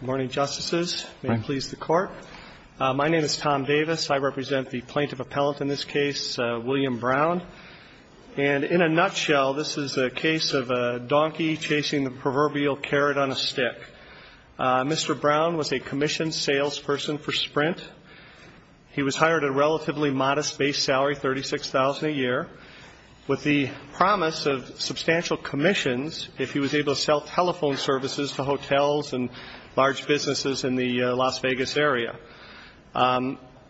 Good morning, Justices. May it please the Court. My name is Tom Davis. I represent the plaintiff appellant in this case, William Brown. And in a nutshell, this is a case of a donkey chasing the proverbial carrot on a stick. Mr. Brown was a commissioned salesperson for Sprint. He was hired at a relatively modest base salary, $36,000 a year, with the promise of substantial commissions if he was able to sell telephone services to hotels and large businesses in the Las Vegas area.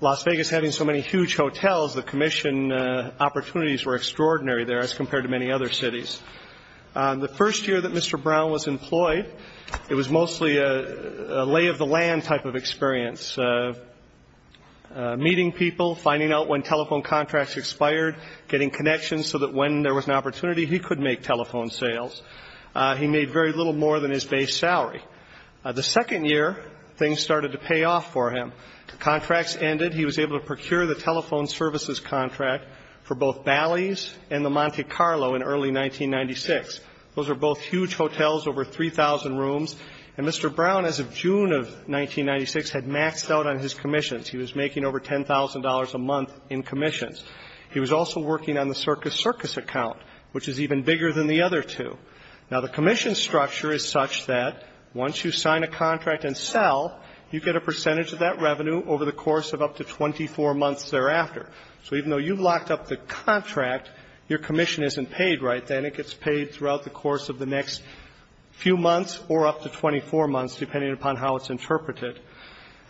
Las Vegas having so many huge hotels, the commission opportunities were extraordinary there as compared to many other cities. The first year that Mr. Brown was employed, it was mostly a lay-of-the-land type of experience, meeting people, finding out when telephone contracts expired, getting connections so that when there was an opportunity, he could make telephone sales. He made very little more than his base salary. The second year, things started to pay off for him. Contracts ended. He was able to procure the telephone services contract for both Bally's and the Monte Carlo in early 1996. Those were both huge hotels, over 3,000 rooms. And Mr. Brown, as of June of 1996, had maxed out on his commissions. He was making over $10,000 a month in commissions. He was also working on the Circus Circus account, which is even bigger than the other two. Now, the commission structure is such that once you sign a contract and sell, you get a percentage of that revenue over the course of up to 24 months thereafter. So even though you've locked up the contract, your commission isn't paid right then. It gets paid throughout the course of the next few months or up to 24 months, depending upon how it's interpreted.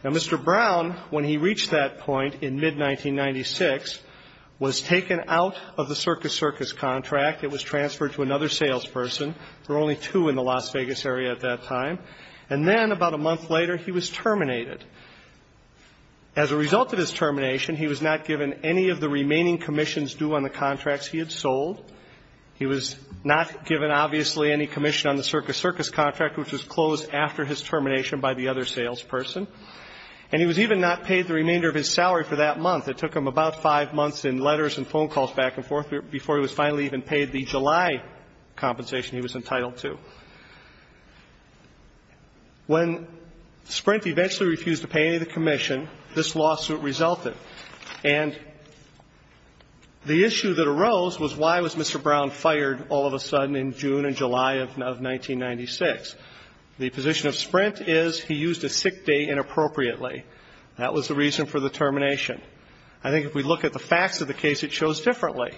Now, Mr. Brown, when he reached that point in mid-1996, was taken out of the Circus Circus contract. It was transferred to another salesperson. There were only two in the Las Vegas area at that time. And then, about a month later, he was terminated. As a result of his termination, he was not given any of the remaining commissions due on the contracts he had sold. He was not given, obviously, any commission on the Circus Circus contract, which was closed after his termination by the other salesperson. And he was even not paid the remainder of his salary for that month. It took him about five months in letters and phone calls back and forth before he was finally even paid the July compensation he was entitled to. When Sprint eventually refused to pay any of the commission, this lawsuit resulted. And the issue that arose was why was Mr. Brown fired all of a sudden in June and July of 1996? The position of Sprint is he used a sick day inappropriately. That was the reason for the termination. I think if we look at the facts of the case, it shows differently.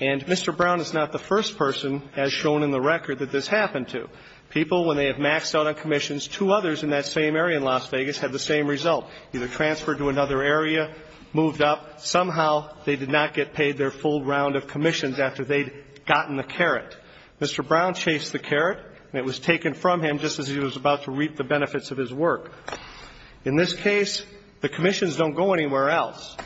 And Mr. Brown is not the first person, as shown in the record, that this happened to. People, when they have maxed out on commissions, two others in that same area in Las Vegas had the same result. Either transferred to another area, moved up. Somehow, they did not get paid their full round of commissions after they'd gotten the carrot. Mr. Brown chased the carrot, and it was taken from him just as he was about to reap the benefits of his work. In this case, the commissions don't go anywhere else.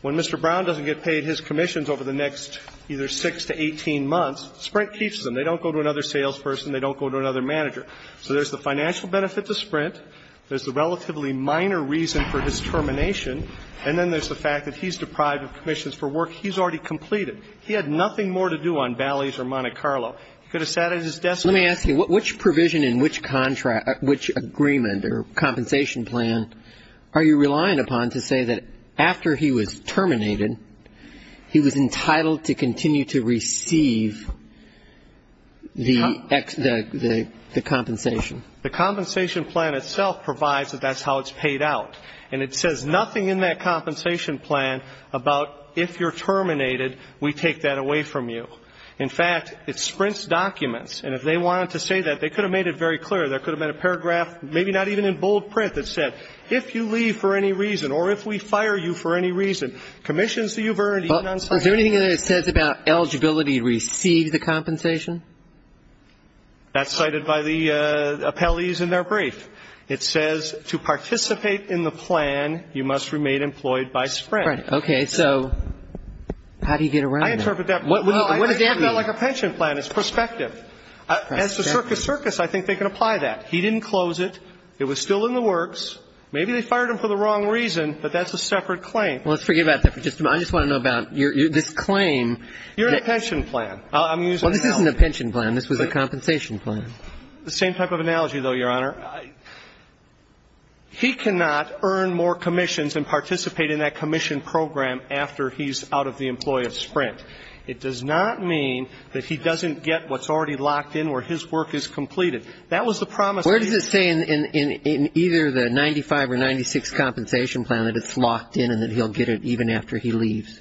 When Mr. Brown doesn't get paid his commissions over the next either 6 to 18 months, Sprint keeps them. They don't go to another salesperson. They don't go to another manager. So there's the financial benefit to Sprint. There's the relatively minor reason for his termination. And then there's the fact that he's deprived of commissions for work he's already completed. He had nothing more to do on Bally's or Monte Carlo. He could have sat at his desk and been doing nothing. Let me ask you, which provision in which agreement or compensation plan are you relying upon to say that after he was terminated, he was entitled to continue to receive the compensation? The compensation plan itself provides that that's how it's paid out. And it says nothing in that compensation plan about if you're terminated, we take that away from you. In fact, it's Sprint's documents, and if they wanted to say that, they could have made it very clear. There could have been a paragraph, maybe not even in bold print, that said, if you leave for any reason, or if we fire you for any reason, commissions that you've earned even on site. Is there anything in there that says about eligibility to receive the compensation? That's cited by the appellees in their brief. It says, to participate in the plan, you must remain employed by Sprint. Okay, so how do you get around that? I interpret that like a pension plan. It's prospective. As to Circus Circus, I think they can apply that. He didn't close it. It was still in the works. Maybe they fired him for the wrong reason, but that's a separate claim. Well, let's forget about that for just a moment. I just want to know about this claim. You're in a pension plan. I'm using an analogy. Well, this isn't a pension plan. This was a compensation plan. The same type of analogy, though, Your Honor. He cannot earn more commissions and participate in that commission program after he's out of the employee of Sprint. It does not mean that he doesn't get what's already locked in, where his work is completed. That was the promise. Where does it say in either the 95 or 96 compensation plan that it's locked in and that he'll get it even after he leaves?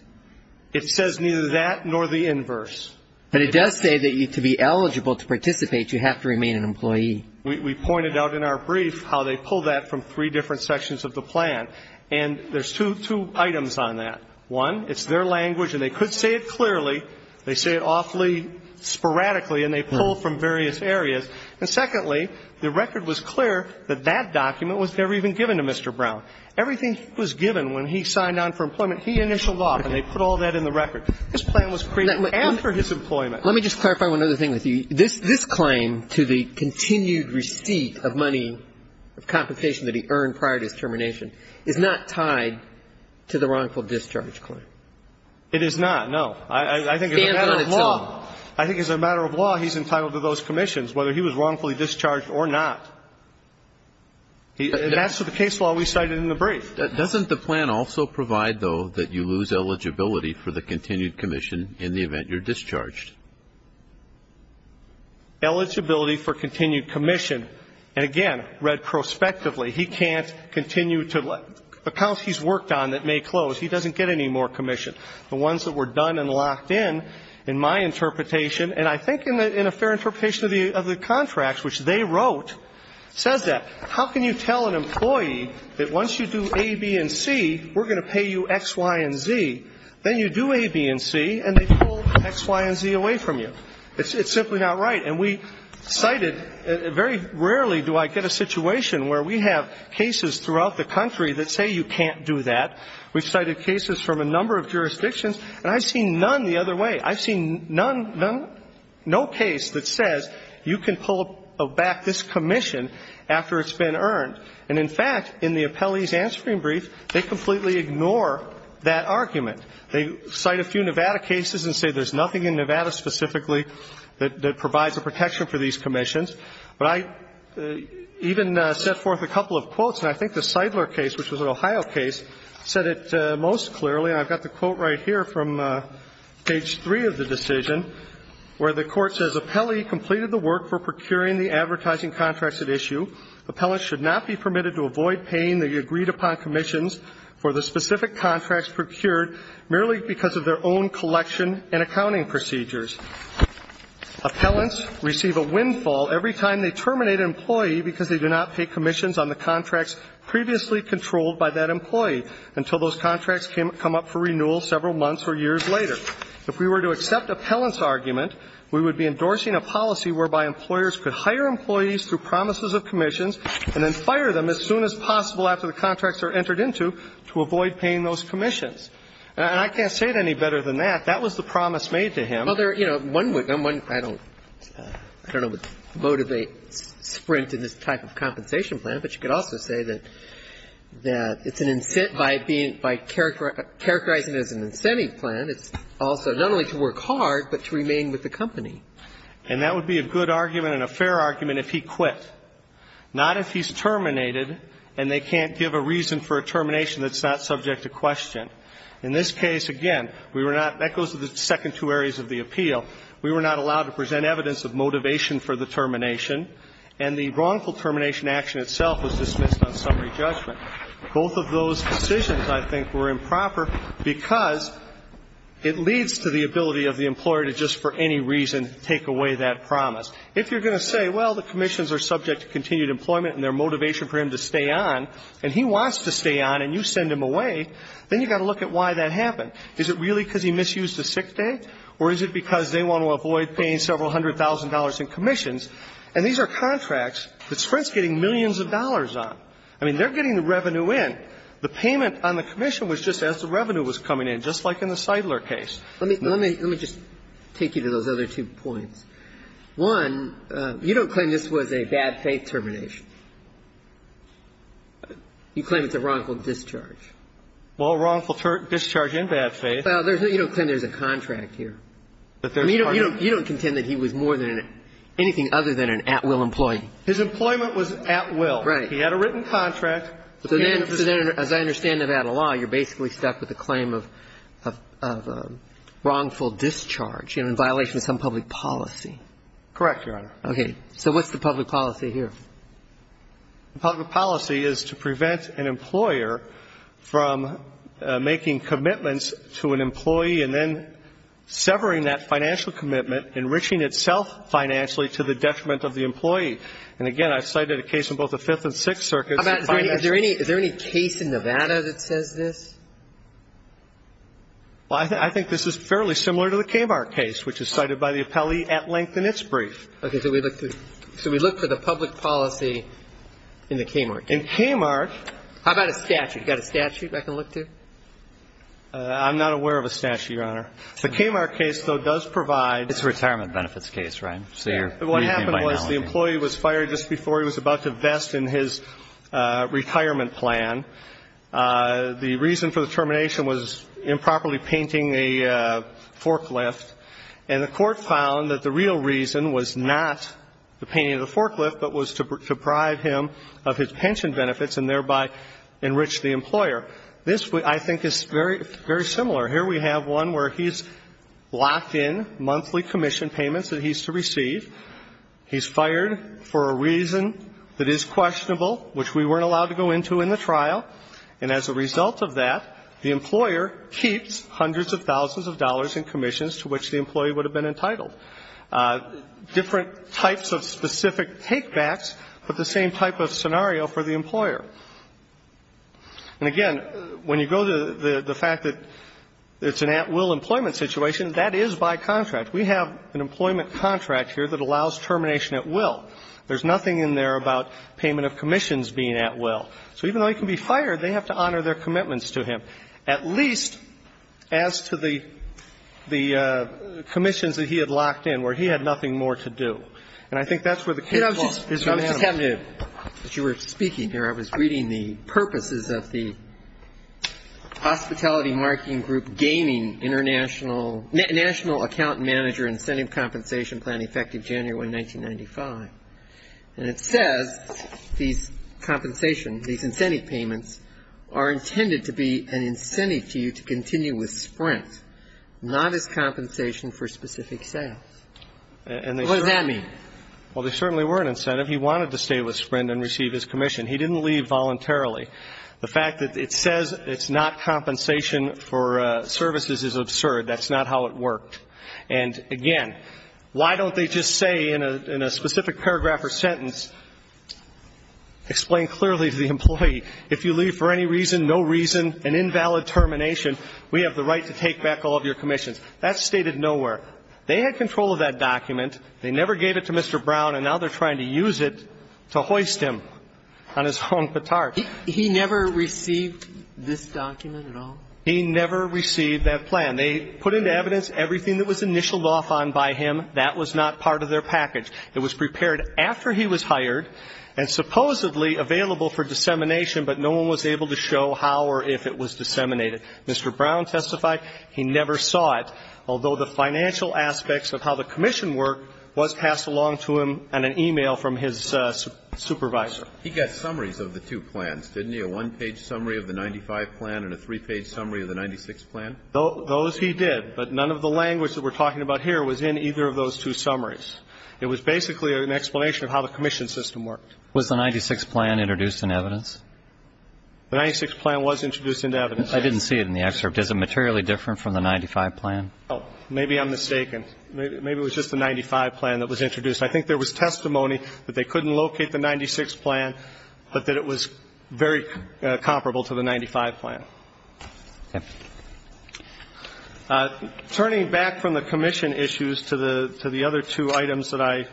It says neither that nor the inverse. But it does say that to be eligible to participate, you have to remain an employee. We pointed out in our brief how they pulled that from three different sections of the plan, and there's two items on that. One, it's their language, and they could say it clearly. They say it awfully sporadically, and they pull from various areas. And secondly, the record was clear that that document was never even given to Mr. Brown. Everything was given when he signed on for employment. He initialed off, and they put all that in the record. This plan was created after his employment. Let me just clarify one other thing with you. This claim to the continued receipt of money, of compensation that he earned prior to his termination, is not tied to the wrongful discharge claim. It is not, no. I think as a matter of law, he's entitled to those commissions, whether he was wrongfully discharged or not. That's the case law we cited in the brief. Doesn't the plan also provide, though, that you lose eligibility for the continued commission in the event you're discharged? Eligibility for continued commission. And again, read prospectively, he can't continue to let accounts he's worked on that may close. He doesn't get any more commission. The ones that were done and locked in, in my interpretation, and I think in a fair interpretation of the contracts, which they wrote, says that. How can you tell an employee that once you do A, B, and C, we're going to pay you X, Y, and Z, then you do A, B, and C, and they pull X, Y, and Z away from you? It's simply not right. And we cited, very rarely do I get a situation where we have cases throughout the country that say you can't do that. We've cited cases from a number of jurisdictions, and I've seen none the other way. I've seen none, no case that says you can pull back this commission after it's been earned. And in fact, in the appellee's answering brief, they completely ignore that argument. They cite a few Nevada cases and say there's nothing in Nevada specifically that provides a protection for these commissions. But I even set forth a couple of quotes, and I think the Seidler case, which was an Ohio case, said it most clearly. And I've got the quote right here from page three of the decision, where the court says, appellee completed the work for procuring the advertising contracts at issue. Appellants should not be permitted to avoid paying the agreed-upon commissions for the specific contracts procured merely because of their own collection and accounting procedures. Appellants receive a windfall every time they terminate an employee because they do not pay commissions on the contracts previously controlled by that employee until those contracts come up for renewal several months or years later. If we were to accept appellant's argument, we would be endorsing a policy whereby employers could hire employees through promises of commissions and then fire them as soon as possible after the contracts are entered into to avoid paying those commissions. And I can't say it any better than that. That was the promise made to him. Well, there are, you know, one would go on one, I don't, I don't know what motivates Sprint in this type of compensation plan, but you could also say that it's an incentive by being, by characterizing it as an incentive plan, it's also not only to work hard, but to remain with the company. And that would be a good argument and a fair argument if he quit, not if he's terminated and they can't give a reason for a termination that's not subject to question. In this case, again, we were not, that goes to the second two areas of the appeal. We were not allowed to present evidence of motivation for the termination, and the wrongful termination action itself was dismissed on summary judgment. Both of those decisions, I think, were improper because it leads to the ability of the employer to just for any reason take away that promise. If you're going to say, well, the commissions are subject to continued employment and their motivation for him to stay on, and he wants to stay on and you send him away, then you've got to look at why that happened. Is it really because he misused a sick day or is it because they want to avoid paying several hundred thousand dollars in commissions? And these are contracts that Sprint's getting millions of dollars on. I mean, they're getting the revenue in. The payment on the commission was just as the revenue was coming in, just like in the Seidler case. Let me just take you to those other two points. One, you don't claim this was a bad faith termination. You claim it's a wrongful discharge. Well, wrongful discharge in bad faith. You don't claim there's a contract here. You don't contend that he was more than anything other than an at-will employee. His employment was at will. Right. He had a written contract. So then, as I understand Nevada law, you're basically stuck with the claim of a wrongful discharge, you know, in violation of some public policy. Correct, Your Honor. Okay. So what's the public policy here? The public policy is to prevent an employer from making commitments to an employee and then severing that financial commitment, enriching itself financially to the detriment of the employee. And again, I've cited a case in both the Fifth and Sixth Circuits. How about, is there any case in Nevada that says this? Well, I think this is fairly similar to the Kmart case, which is cited by the appellee at length in its brief. Okay. So we look for the public policy in the Kmart case. In Kmart. How about a statute? You got a statute I can look to? I'm not aware of a statute, Your Honor. The Kmart case, though, does provide. It's a retirement benefits case, right? What happened was the employee was fired just before he was about to invest in his retirement plan. The reason for the termination was improperly painting a forklift. And the court found that the real reason was not the painting of the forklift, but was to deprive him of his pension benefits and thereby enrich the employer. This, I think, is very similar. Here we have one where he's locked in monthly commission payments that he's to receive. He's fired for a reason that is questionable, which we weren't allowed to go into in the trial. And as a result of that, the employer keeps hundreds of thousands of dollars in commissions to which the employee would have been entitled. Different types of specific take-backs, but the same type of scenario for the employer. And again, when you go to the fact that it's an at-will employment situation, that is by contract. We have an employment contract here that allows termination at will. There's nothing in there about payment of commissions being at will. So even though he can be fired, they have to honor their commitments to him, at least as to the commissions that he had locked in where he had nothing more to do. And I think that's where the case falls. Mr. Chairman. As you were speaking here, I was reading the purposes of the Hospitality Marketing Group gaining international ñ National Account Manager Incentive Compensation Plan effective January 1995. And it says these compensation, these incentive payments are intended to be an incentive to you to continue with Sprint, not as compensation for specific sales. What does that mean? Well, they certainly were an incentive. He wanted to stay with Sprint and receive his commission. He didn't leave voluntarily. The fact that it says it's not compensation for services is absurd. That's not how it worked. And again, why don't they just say in a specific paragraph or sentence, explain clearly to the employee, if you leave for any reason, no reason, an invalid termination, we have the right to take back all of your commissions. That's stated nowhere. They had control of that document. They never gave it to Mr. Brown, and now they're trying to use it to hoist him on his own petard. He never received this document at all? He never received that plan. They put into evidence everything that was initialed off on by him. That was not part of their package. It was prepared after he was hired and supposedly available for dissemination, but no one was able to show how or if it was disseminated. Mr. Brown testified he never saw it, although the financial aspects of how the commission worked was passed along to him in an e-mail from his supervisor. He got summaries of the two plans, didn't he, a one-page summary of the 95 plan and a three-page summary of the 96 plan? Those he did, but none of the language that we're talking about here was in either of those two summaries. It was basically an explanation of how the commission system worked. Was the 96 plan introduced in evidence? The 96 plan was introduced into evidence. I didn't see it in the excerpt. Is it materially different from the 95 plan? Oh, maybe I'm mistaken. Maybe it was just the 95 plan that was introduced. I think there was testimony that they couldn't locate the 96 plan, but that it was very comparable to the 95 plan. Okay. Turning back from the commission issues to the other two items that I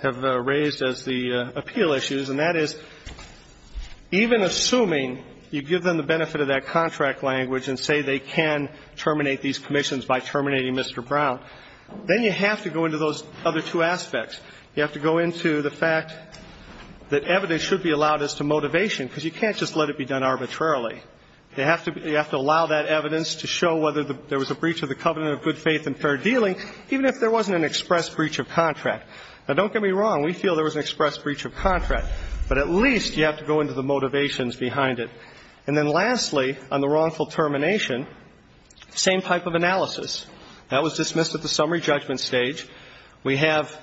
have raised as the appeal issues, and that is, even assuming you give them the benefit of that then you have to go into those other two aspects. You have to go into the fact that evidence should be allowed as to motivation because you can't just let it be done arbitrarily. You have to allow that evidence to show whether there was a breach of the covenant of good faith and fair dealing, even if there wasn't an express breach of contract. Now, don't get me wrong. We feel there was an express breach of contract, but at least you have to go into the motivations behind it. And then lastly, on the wrongful termination, same type of analysis. That was dismissed at the summary judgment stage. We have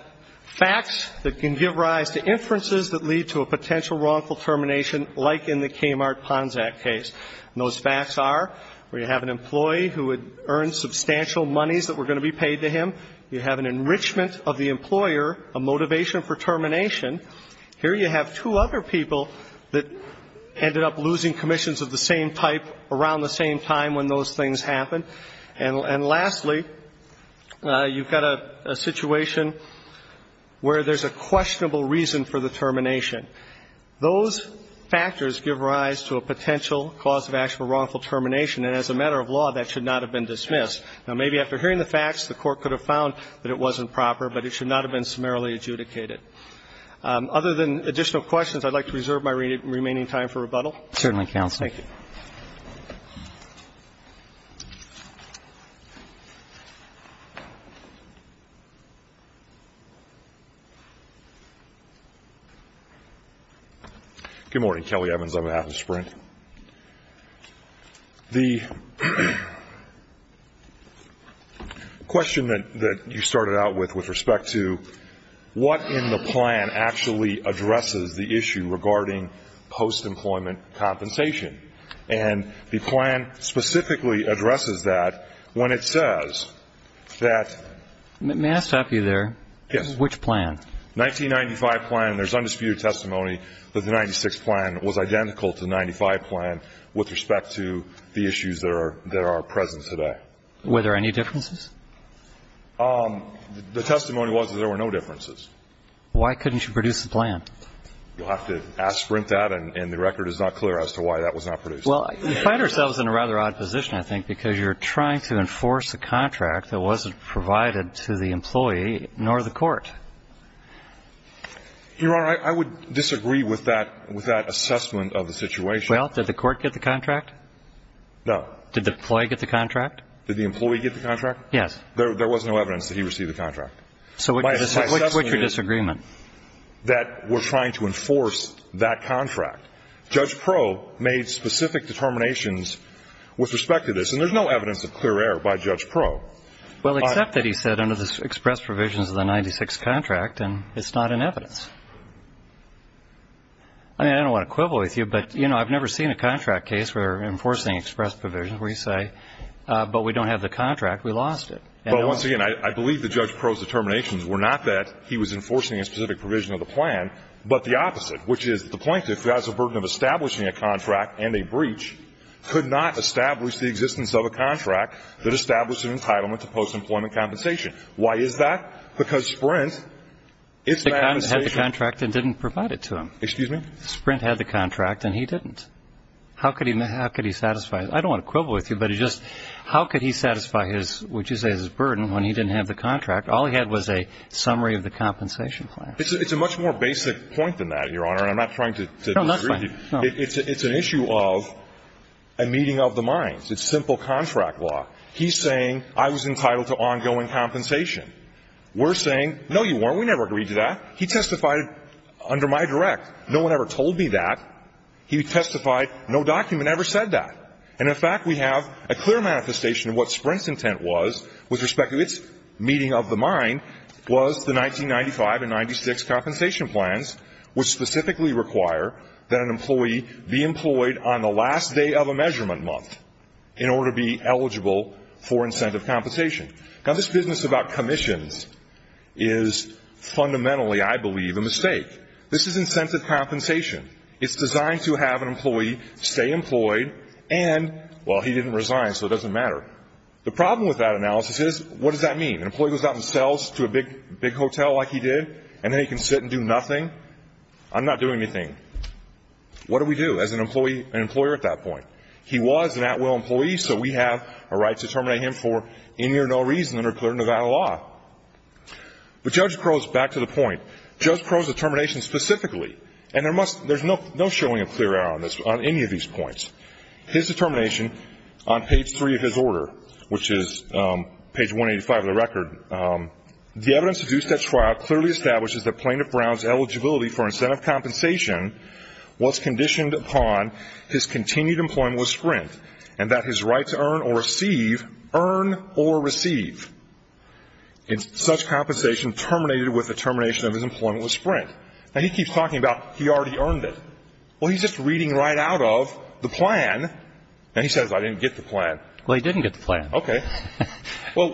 facts that can give rise to inferences that lead to a potential wrongful termination like in the Kmart-Ponzac case. And those facts are where you have an employee who had earned substantial monies that were going to be paid to him. You have an enrichment of the employer, a motivation for termination. Here you have two other people that ended up losing commissions of the same type around the same time when those things happened. And lastly, you've got a situation where there's a questionable reason for the termination. Those factors give rise to a potential cause of actual wrongful termination. And as a matter of law, that should not have been dismissed. Now, maybe after hearing the facts, the Court could have found that it wasn't proper, but it should not have been summarily adjudicated. Other than additional questions, I'd like to reserve my remaining time for rebuttal. Certainly, Counsel. Thank you. Good morning. Kelly Evans on behalf of Sprint. The question that you started out with with respect to what in the plan actually addresses the issue regarding post-employment compensation. And the plan specifically addresses that when it says that ---- May I stop you there? Yes. Which plan? 1995 plan. There's undisputed testimony that the 96 plan was identical to the 95 plan with respect to the issues that are present today. Were there any differences? The testimony was that there were no differences. Why couldn't you produce the plan? You'll have to ask Sprint that and the record is not clear as to why that was not produced. Well, you find ourselves in a rather odd position, I think, because you're trying to enforce a contract that wasn't provided to the employee nor the court. Your Honor, I would disagree with that assessment of the situation. Well, did the court get the contract? No. Did the employee get the contract? Did the employee get the contract? Yes. There was no evidence that he received the contract. So what's your disagreement? That we're trying to enforce that contract. Judge Proh made specific determinations with respect to this, and there's no evidence of clear error by Judge Proh. Well, except that he said under the express provisions of the 96 contract, and it's not in evidence. I mean, I don't want to quibble with you, but, you know, I've never seen a contract case where they're enforcing express provisions where you say, but we don't have the contract, we lost it. Well, once again, I believe that Judge Proh's determinations were not that he was enforcing a specific provision of the plan, but the opposite, which is the plaintiff who has a burden of establishing a contract and a breach could not establish the existence of a contract that established an entitlement to post-employment compensation. Because Sprint, its manifestation – Sprint had the contract and didn't provide it to him. Excuse me? Sprint had the contract and he didn't. How could he satisfy – I don't want to quibble with you, but just how could he satisfy his – what you say is his burden when he didn't have the contract? All he had was a summary of the compensation plan. It's a much more basic point than that, Your Honor, and I'm not trying to disagree. No, that's fine. It's an issue of a meeting of the minds. It's simple contract law. He's saying I was entitled to ongoing compensation. We're saying, no, you weren't. We never agreed to that. He testified under my direct. No one ever told me that. He testified no document ever said that. And, in fact, we have a clear manifestation of what Sprint's intent was, with respect to its meeting of the mind, was the 1995 and 1996 compensation plans, which specifically require that an employee be employed on the last day of a measurement month in order to be eligible for incentive compensation. Now, this business about commissions is fundamentally, I believe, a mistake. This is incentive compensation. It's designed to have an employee stay employed and, well, he didn't resign, so it doesn't matter. The problem with that analysis is, what does that mean? An employee goes out and sells to a big hotel like he did, and then he can sit and do nothing? I'm not doing anything. What do we do as an employee and employer at that point? He was an at-will employee, so we have a right to terminate him for any or no reason under clear Nevada law. But Judge Crow's back to the point. Judge Crow's determination specifically, and there's no showing a clear error on any of these points, his determination on page 3 of his order, which is page 185 of the record, the evidence of the two-step trial clearly establishes that Plaintiff Brown's eligibility for incentive compensation was conditioned upon his continued employment with Sprint and that his right to earn or receive, earn or receive, in such compensation terminated with the termination of his employment with Sprint. Now, he keeps talking about he already earned it. Well, he's just reading right out of the plan, and he says, I didn't get the plan. Well, he didn't get the plan. Okay. So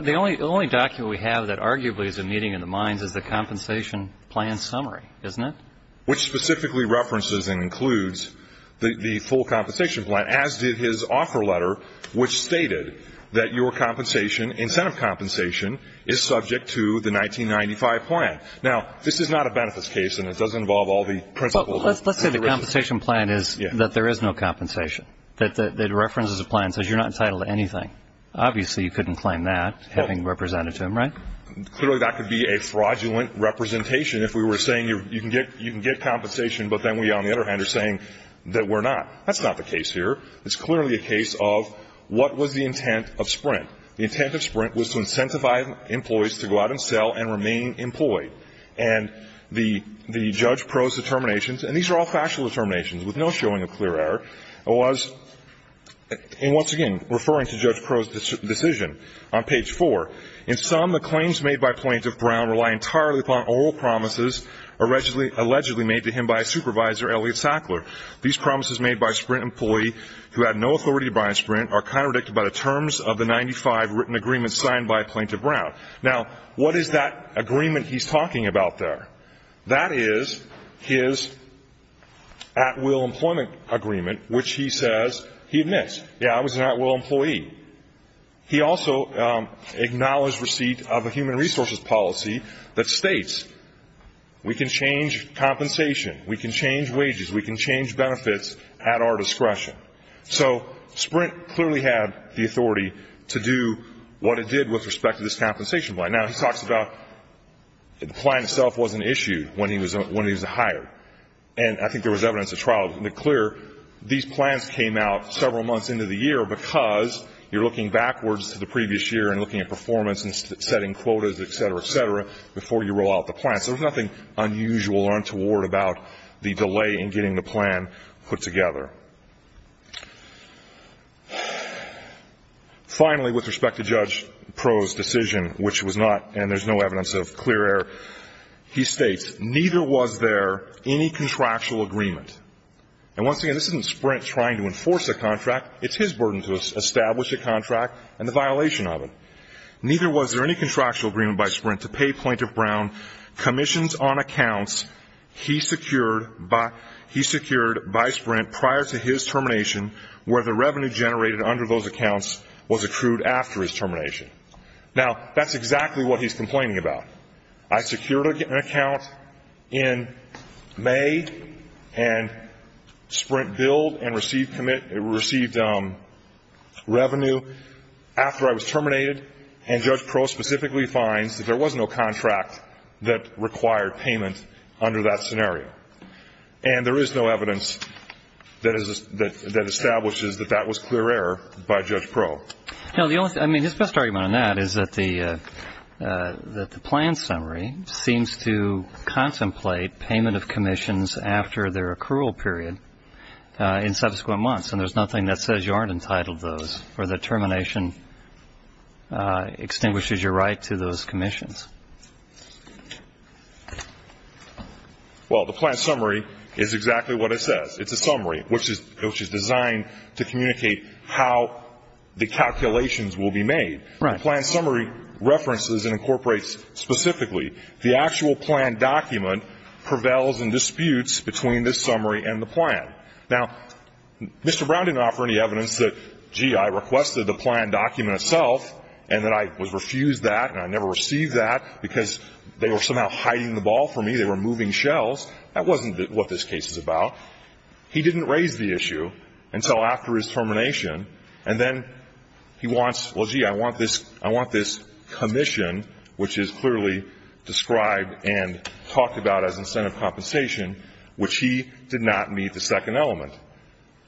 the only document we have that arguably is a meeting in the minds is the compensation plan summary, isn't it? Which specifically references and includes the full compensation plan, as did his offer letter, which stated that your compensation, incentive compensation, is subject to the 1995 plan. Now, this is not a benefits case, and it doesn't involve all the principles. Well, let's say the compensation plan is that there is no compensation, that it references the plan and says you're not entitled to anything. Obviously, you couldn't claim that, having represented to him, right? Clearly, that could be a fraudulent representation if we were saying you can get compensation, but then we, on the other hand, are saying that we're not. That's not the case here. It's clearly a case of what was the intent of Sprint. The intent of Sprint was to incentivize employees to go out and sell and remain employed. And the judge prose determinations, and these are all factual determinations with no showing of clear error, was, and once again, referring to Judge Prose's decision on page 4, in sum, the claims made by Plaintiff Brown rely entirely upon oral promises allegedly made to him by Supervisor Elliot Sackler. These promises made by a Sprint employee who had no authority to buy in Sprint are contradicted by the terms of the 95 written agreements signed by Plaintiff Brown. Now, what is that agreement he's talking about there? That is his at-will employment agreement, which he says he admits, yeah, I was an at-will employee. He also acknowledged receipt of a human resources policy that states we can change compensation, we can change wages, we can change benefits at our discretion. So Sprint clearly had the authority to do what it did with respect to this compensation plan. Now, he talks about the plan itself wasn't issued when he was hired. And I think there was evidence at trial to make clear these plans came out several months into the year because you're looking backwards to the previous year and looking at performance and setting quotas, et cetera, et cetera, before you roll out the plans. There was nothing unusual or untoward about the delay in getting the plan put together. Finally, with respect to Judge Proulx's decision, which was not and there's no evidence of clear error, he states, neither was there any contractual agreement. And once again, this isn't Sprint trying to enforce a contract. It's his burden to establish a contract and the violation of it. Neither was there any contractual agreement by Sprint to pay Plaintiff Brown commissions on accounts he secured by Sprint prior to his termination where the revenue generated under those accounts was accrued after his termination. Now, that's exactly what he's complaining about. I secured an account in May and Sprint billed and received revenue after I was terminated. And Judge Proulx specifically finds that there was no contract that required payment under that scenario. And there is no evidence that establishes that that was clear error by Judge Proulx. I mean, his best argument on that is that the plan summary seems to contemplate payment of commissions after their accrual period in subsequent months, and there's nothing that says you aren't entitled to those or that termination extinguishes your right to those commissions. Well, the plan summary is exactly what it says. It's a summary which is designed to communicate how the calculations will be made. Right. The plan summary references and incorporates specifically the actual plan document prevails and disputes between this summary and the plan. Now, Mr. Brown didn't offer any evidence that, gee, I requested the plan document itself and that I was refused that and I never received that because they were somehow hiding the ball from me. They were moving shells. That wasn't what this case is about. He didn't raise the issue until after his termination, and then he wants, well, gee, I want this commission, which is clearly described and talked about as incentive compensation, which he did not meet the second element.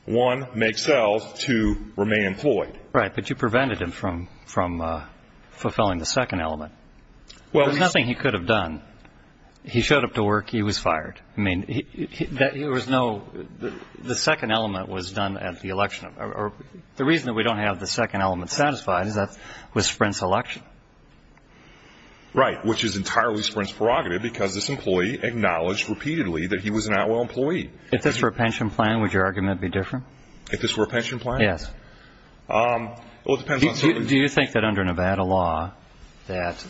One, make cells. Two, remain employed. Right. But you prevented him from fulfilling the second element. There's nothing he could have done. He showed up to work. He was fired. I mean, there was no the second element was done at the election. The reason that we don't have the second element satisfied is that was Sprint's election. Right, which is entirely Sprint's prerogative because this employee acknowledged repeatedly that he was an Atwell employee. If this were a pension plan, would your argument be different? If this were a pension plan? Yes. Do you think that under Nevada law that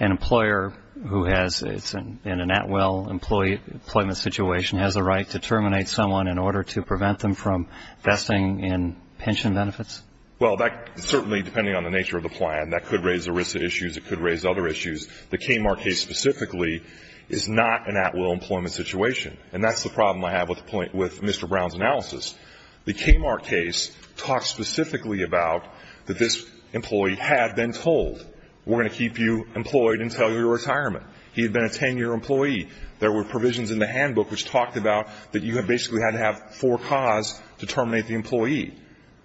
an employer who has, in an Atwell employment situation, has a right to terminate someone in order to prevent them from investing in pension benefits? Well, that certainly, depending on the nature of the plan, that could raise ERISA issues. It could raise other issues. The Kmart case specifically is not an Atwell employment situation, and that's the problem I have with Mr. Brown's analysis. The Kmart case talks specifically about that this employee had been told, we're going to keep you employed until your retirement. He had been a 10-year employee. There were provisions in the handbook which talked about that you basically had to have four cause to terminate the employee.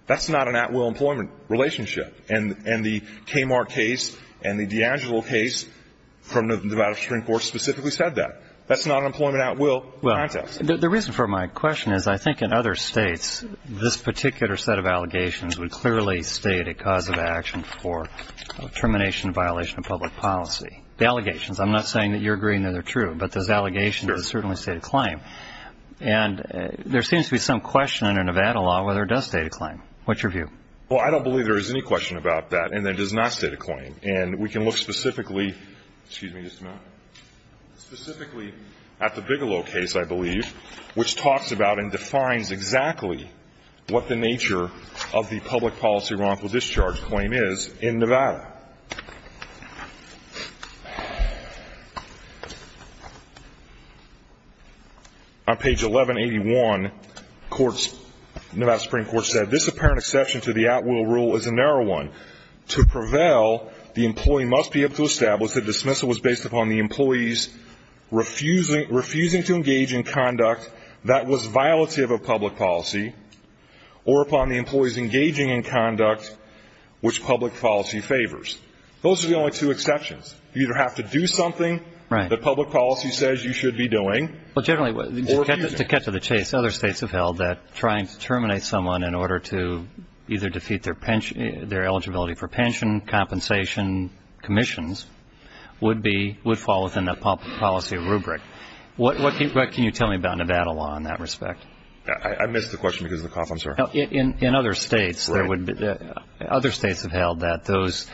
That's not an Atwell employment relationship. And the Kmart case and the DeAngelo case from the Nevada Supreme Court specifically said that. That's not an employment Atwell context. The reason for my question is I think in other states, this particular set of allegations would clearly state a cause of action for termination of violation of public policy. The allegations, I'm not saying that you're agreeing that they're true, but those allegations certainly state a claim. And there seems to be some question under Nevada law whether it does state a claim. What's your view? Well, I don't believe there is any question about that and that it does not state a claim. And we can look specifically at the Bigelow case, I believe, which talks about and defines exactly what the nature of the public policy wrongful discharge claim is in Nevada. On page 1181, Nevada Supreme Court said, this apparent exception to the Atwell rule is a narrow one. To prevail, the employee must be able to establish that dismissal was based upon the employee's refusing to engage in conduct that was violative of public policy or upon the employee's engaging in conduct which public policy favors. Those are the only two exceptions. You either have to do something that public policy says you should be doing. Well, generally, to cut to the chase, other states have held that trying to terminate someone in order to either defeat their eligibility for pension, compensation, commissions would fall within that public policy rubric. What can you tell me about Nevada law in that respect? I missed the question because of the cough, I'm sorry. In other states, other states have held that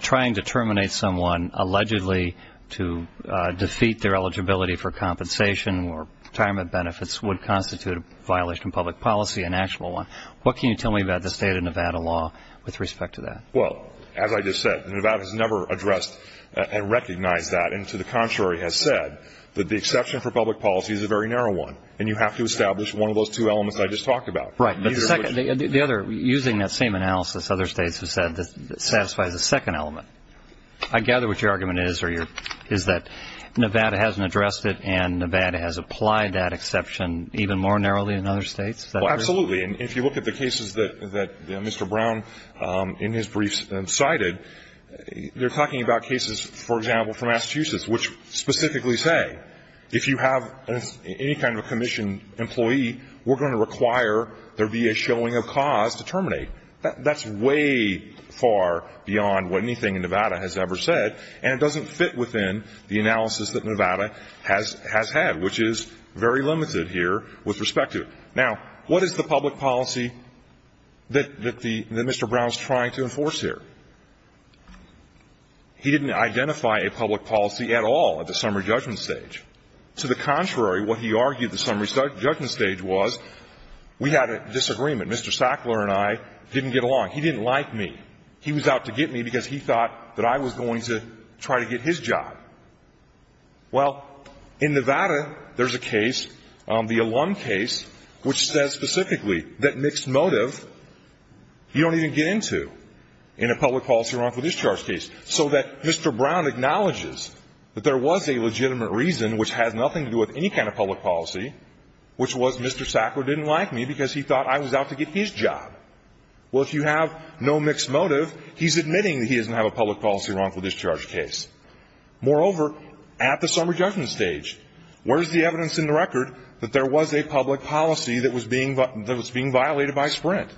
trying to terminate someone allegedly to defeat their eligibility for compensation or retirement benefits would constitute a violation of public policy, an actual one. What can you tell me about the state of Nevada law with respect to that? Well, as I just said, Nevada has never addressed and recognized that, and to the contrary has said that the exception for public policy is a very narrow one, and you have to establish one of those two elements I just talked about. Right, but the other, using that same analysis, other states have said that it satisfies a second element. I gather what your argument is, is that Nevada hasn't addressed it and Nevada has applied that exception even more narrowly in other states? Absolutely. And if you look at the cases that Mr. Brown in his briefs cited, they're talking about cases, for example, from Massachusetts, which specifically say if you have any kind of commission employee, we're going to require there be a showing of cause to terminate. That's way far beyond what anything in Nevada has ever said, and it doesn't fit within the analysis that Nevada has had, which is very limited here with respect to it. Now, what is the public policy that Mr. Brown is trying to enforce here? He didn't identify a public policy at all at the summary judgment stage. To the contrary, what he argued at the summary judgment stage was we had a disagreement. Mr. Sackler and I didn't get along. He didn't like me. He was out to get me because he thought that I was going to try to get his job. Well, in Nevada, there's a case, the Alum case, which says specifically that mixed motive you don't even get into in a public policy wrongful discharge case. So that Mr. Brown acknowledges that there was a legitimate reason, which has nothing to do with any kind of public policy, which was Mr. Sackler didn't like me because he thought I was out to get his job. Well, if you have no mixed motive, he's admitting that he doesn't have a public policy wrongful discharge case. Moreover, at the summary judgment stage, where's the evidence in the record that there was a public policy that was being violated by Sprint?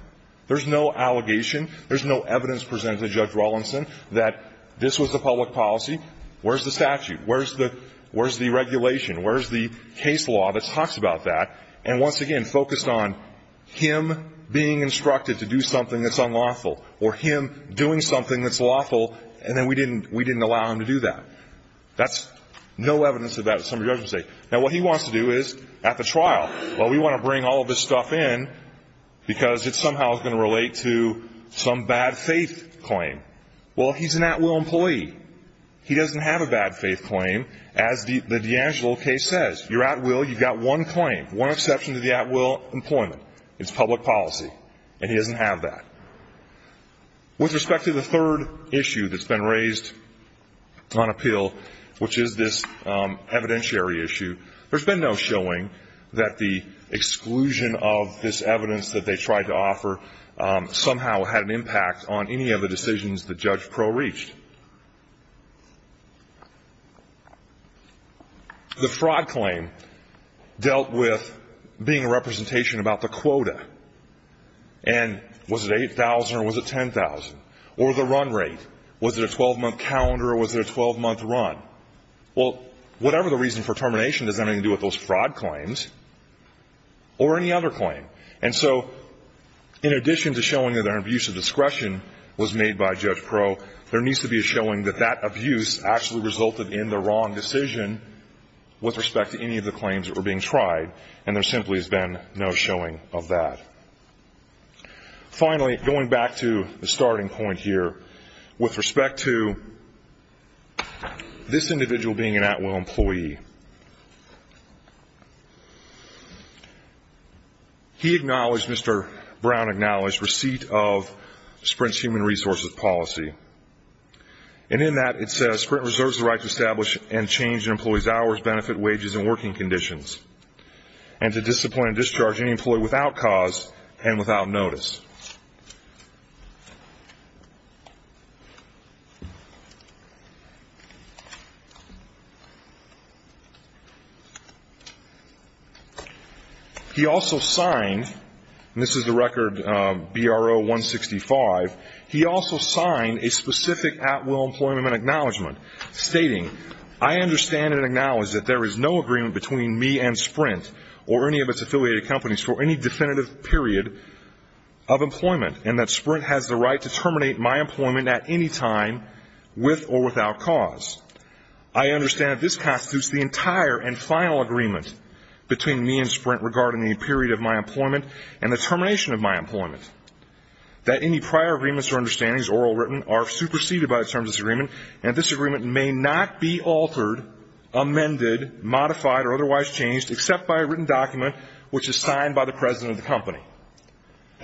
There's no allegation. There's no evidence presented to Judge Rawlinson that this was a public policy. Where's the statute? Where's the regulation? Where's the case law that talks about that and, once again, focused on him being instructed to do something that's unlawful or him doing something that's unlawful, and then we didn't allow him to do that? That's no evidence of that at the summary judgment stage. Now, what he wants to do is, at the trial, well, we want to bring all of this stuff in because it somehow is going to relate to some bad faith claim. Well, he's an at-will employee. He doesn't have a bad faith claim, as the D'Angelo case says. You're at-will. You've got one claim, one exception to the at-will employment. It's public policy, and he doesn't have that. With respect to the third issue that's been raised on appeal, which is this evidentiary issue, there's been no showing that the exclusion of this evidence that they tried to offer somehow had an impact on any of the decisions that Judge Crowe reached. The fraud claim dealt with being a representation about the quota, and was it 8,000 or was it 10,000, or the run rate? Was it a 12-month calendar or was it a 12-month run? Well, whatever the reason for termination doesn't have anything to do with those fraud claims or any other claim. And so in addition to showing that an abuse of discretion was made by Judge Crowe, there needs to be a showing that that abuse actually resulted in the wrong decision with respect to any of the claims that were being tried, and there simply has been no showing of that. Finally, going back to the starting point here, with respect to this individual being an at-will employee, he acknowledged, Mr. Brown acknowledged, receipt of Sprint's human resources policy. And in that it says, Sprint reserves the right to establish and change an employee's hours, benefit, wages, and working conditions, and to discipline and discharge any employee without cause and without notice. He also signed, and this is the record BRO-165, he also signed a specific at-will employment acknowledgement, stating, I understand and acknowledge that there is no agreement between me and Sprint or any of its affiliated companies for any definitive period of employment, and that Sprint has the right to terminate my employment at any time with or without cause. I understand that this constitutes the entire and final agreement between me and Sprint regarding the period of my employment and the termination of my employment, that any prior agreements or understandings, oral or written, are superseded by the terms of this agreement, and this agreement may not be altered, amended, modified, or otherwise changed except by a written document which is signed by the president of the company.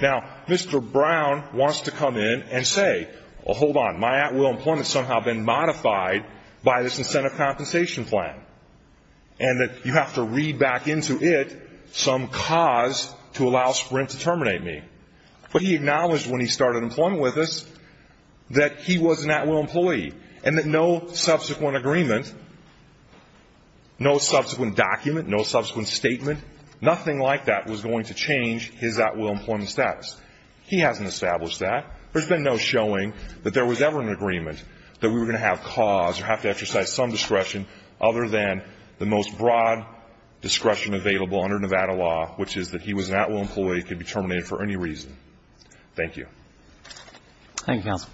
Now, Mr. Brown wants to come in and say, hold on, my at-will employment has somehow been modified by this incentive compensation plan, and that you have to read back into it some cause to allow Sprint to terminate me. But he acknowledged when he started employment with us that he was an at-will employee and that no subsequent agreement, no subsequent document, no subsequent statement, nothing like that was going to change his at-will employment status. He hasn't established that. There's been no showing that there was ever an agreement that we were going to have cause or have to exercise some discretion other than the most broad discretion available under Nevada law, which is that he was an at-will employee, could be terminated for any reason. Thank you. Roberts. Thank you, counsel.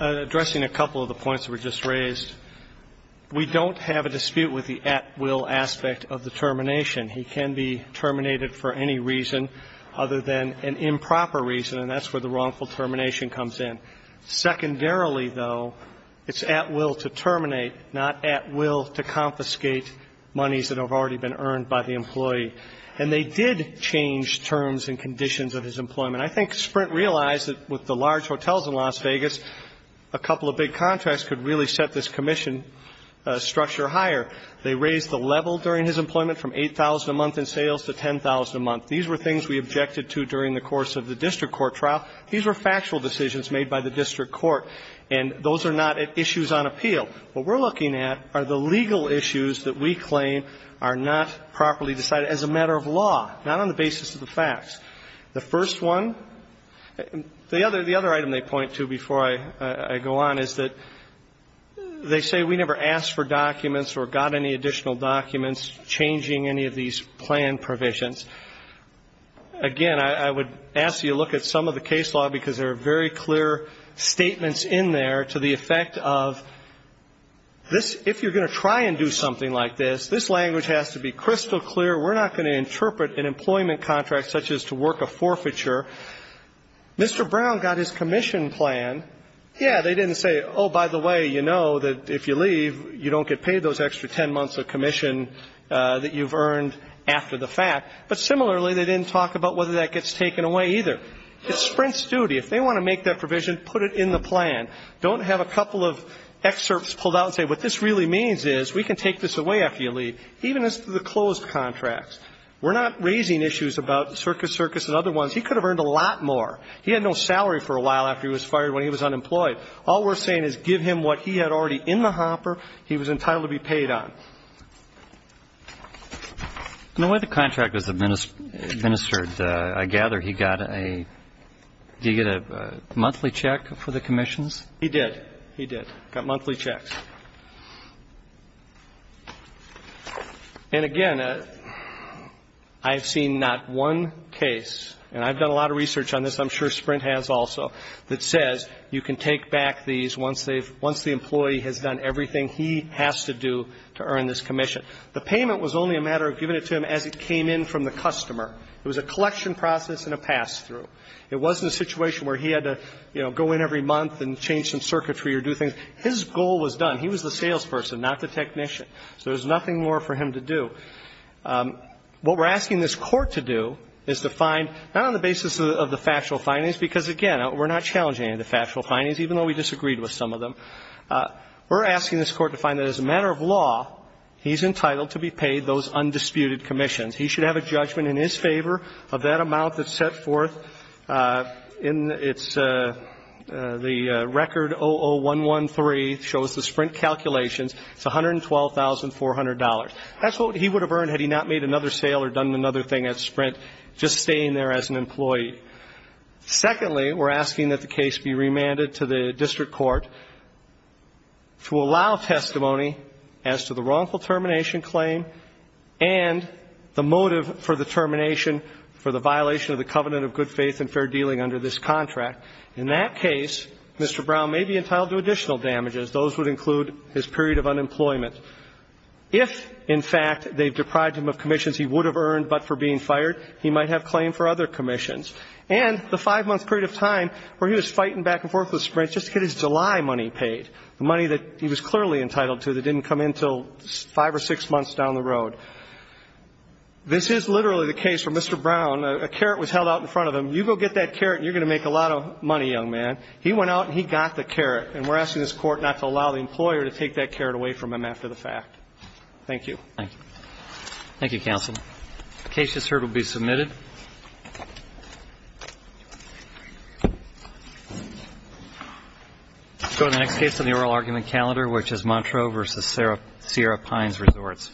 Addressing a couple of the points that were just raised, we don't have a dispute with the at-will aspect of the termination. He can be terminated for any reason other than an improper reason, and that's where the wrongful termination comes in. Secondarily, though, it's at will to terminate, not at will to confiscate monies that have already been earned by the employee. And they did change terms and conditions of his employment. I think Sprint realized that with the large hotels in Las Vegas, a couple of big contracts could really set this commission structure higher. They raised the level during his employment from $8,000 a month in sales to $10,000 a month. These were things we objected to during the course of the district court trial. These were factual decisions made by the district court, and those are not issues on appeal. What we're looking at are the legal issues that we claim are not properly decided as a matter of law, not on the basis of the facts. The first one, the other item they point to before I go on is that they say we never asked for documents or got any additional documents changing any of these plan provisions. Again, I would ask you to look at some of the case law because there are very clear statements in there to the effect of this, if you're going to try and do something like this, this language has to be crystal clear. We're not going to interpret an employment contract such as to work a forfeiture. Mr. Brown got his commission plan. Yeah, they didn't say, oh, by the way, you know that if you leave, you don't get paid those extra 10 months of commission that you've earned after the fact. But similarly, they didn't talk about whether that gets taken away either. It's Sprint's duty. If they want to make that provision, put it in the plan. Don't have a couple of excerpts pulled out and say what this really means is we can take this away after you leave, even as to the closed contracts. We're not raising issues about Circus Circus and other ones. He could have earned a lot more. He had no salary for a while after he was fired when he was unemployed. All we're saying is give him what he had already in the hopper he was entitled to be paid on. In the way the contract was administered, I gather he got a, did he get a monthly check for the commissions? He did. He did. Got monthly checks. And, again, I have seen not one case, and I've done a lot of research on this. I'm sure Sprint has also, that says you can take back these once they've, once the employee has done everything he has to do to earn this commission. The payment was only a matter of giving it to him as it came in from the customer. It was a collection process and a pass-through. It wasn't a situation where he had to, you know, go in every month and change some circuitry or do things. His goal was done. He was the salesperson, not the technician. So there's nothing more for him to do. What we're asking this Court to do is to find, not on the basis of the factual findings, because, again, we're not challenging any of the factual findings, even though we disagreed with some of them. We're asking this Court to find that as a matter of law, he's entitled to be paid those undisputed commissions. He should have a judgment in his favor of that amount that's set forth in its, the record 00113 shows the Sprint calculations. It's $112,400. That's what he would have earned had he not made another sale or done another thing at Sprint, just staying there as an employee. Secondly, we're asking that the case be remanded to the district court to allow testimony as to the wrongful termination claim and the motive for the termination for the violation of the covenant of good faith and fair dealing under this contract. In that case, Mr. Brown may be entitled to additional damages. Those would include his period of unemployment. If, in fact, they've deprived him of commissions he would have earned but for being fired, he might have claim for other commissions. And the five-month period of time where he was fighting back and forth with Sprint just to get his July money paid, the money that he was clearly entitled to that didn't come in until five or six months down the road. This is literally the case where Mr. Brown, a carrot was held out in front of him. You go get that carrot and you're going to make a lot of money, young man. He went out and he got the carrot, and we're asking this Court not to allow the employer to take that carrot away from him after the fact. Thank you. Thank you. Thank you, counsel. The case just heard will be submitted. Let's go to the next case on the oral argument calendar, which is Montreaux v. Sierra Pines Resorts.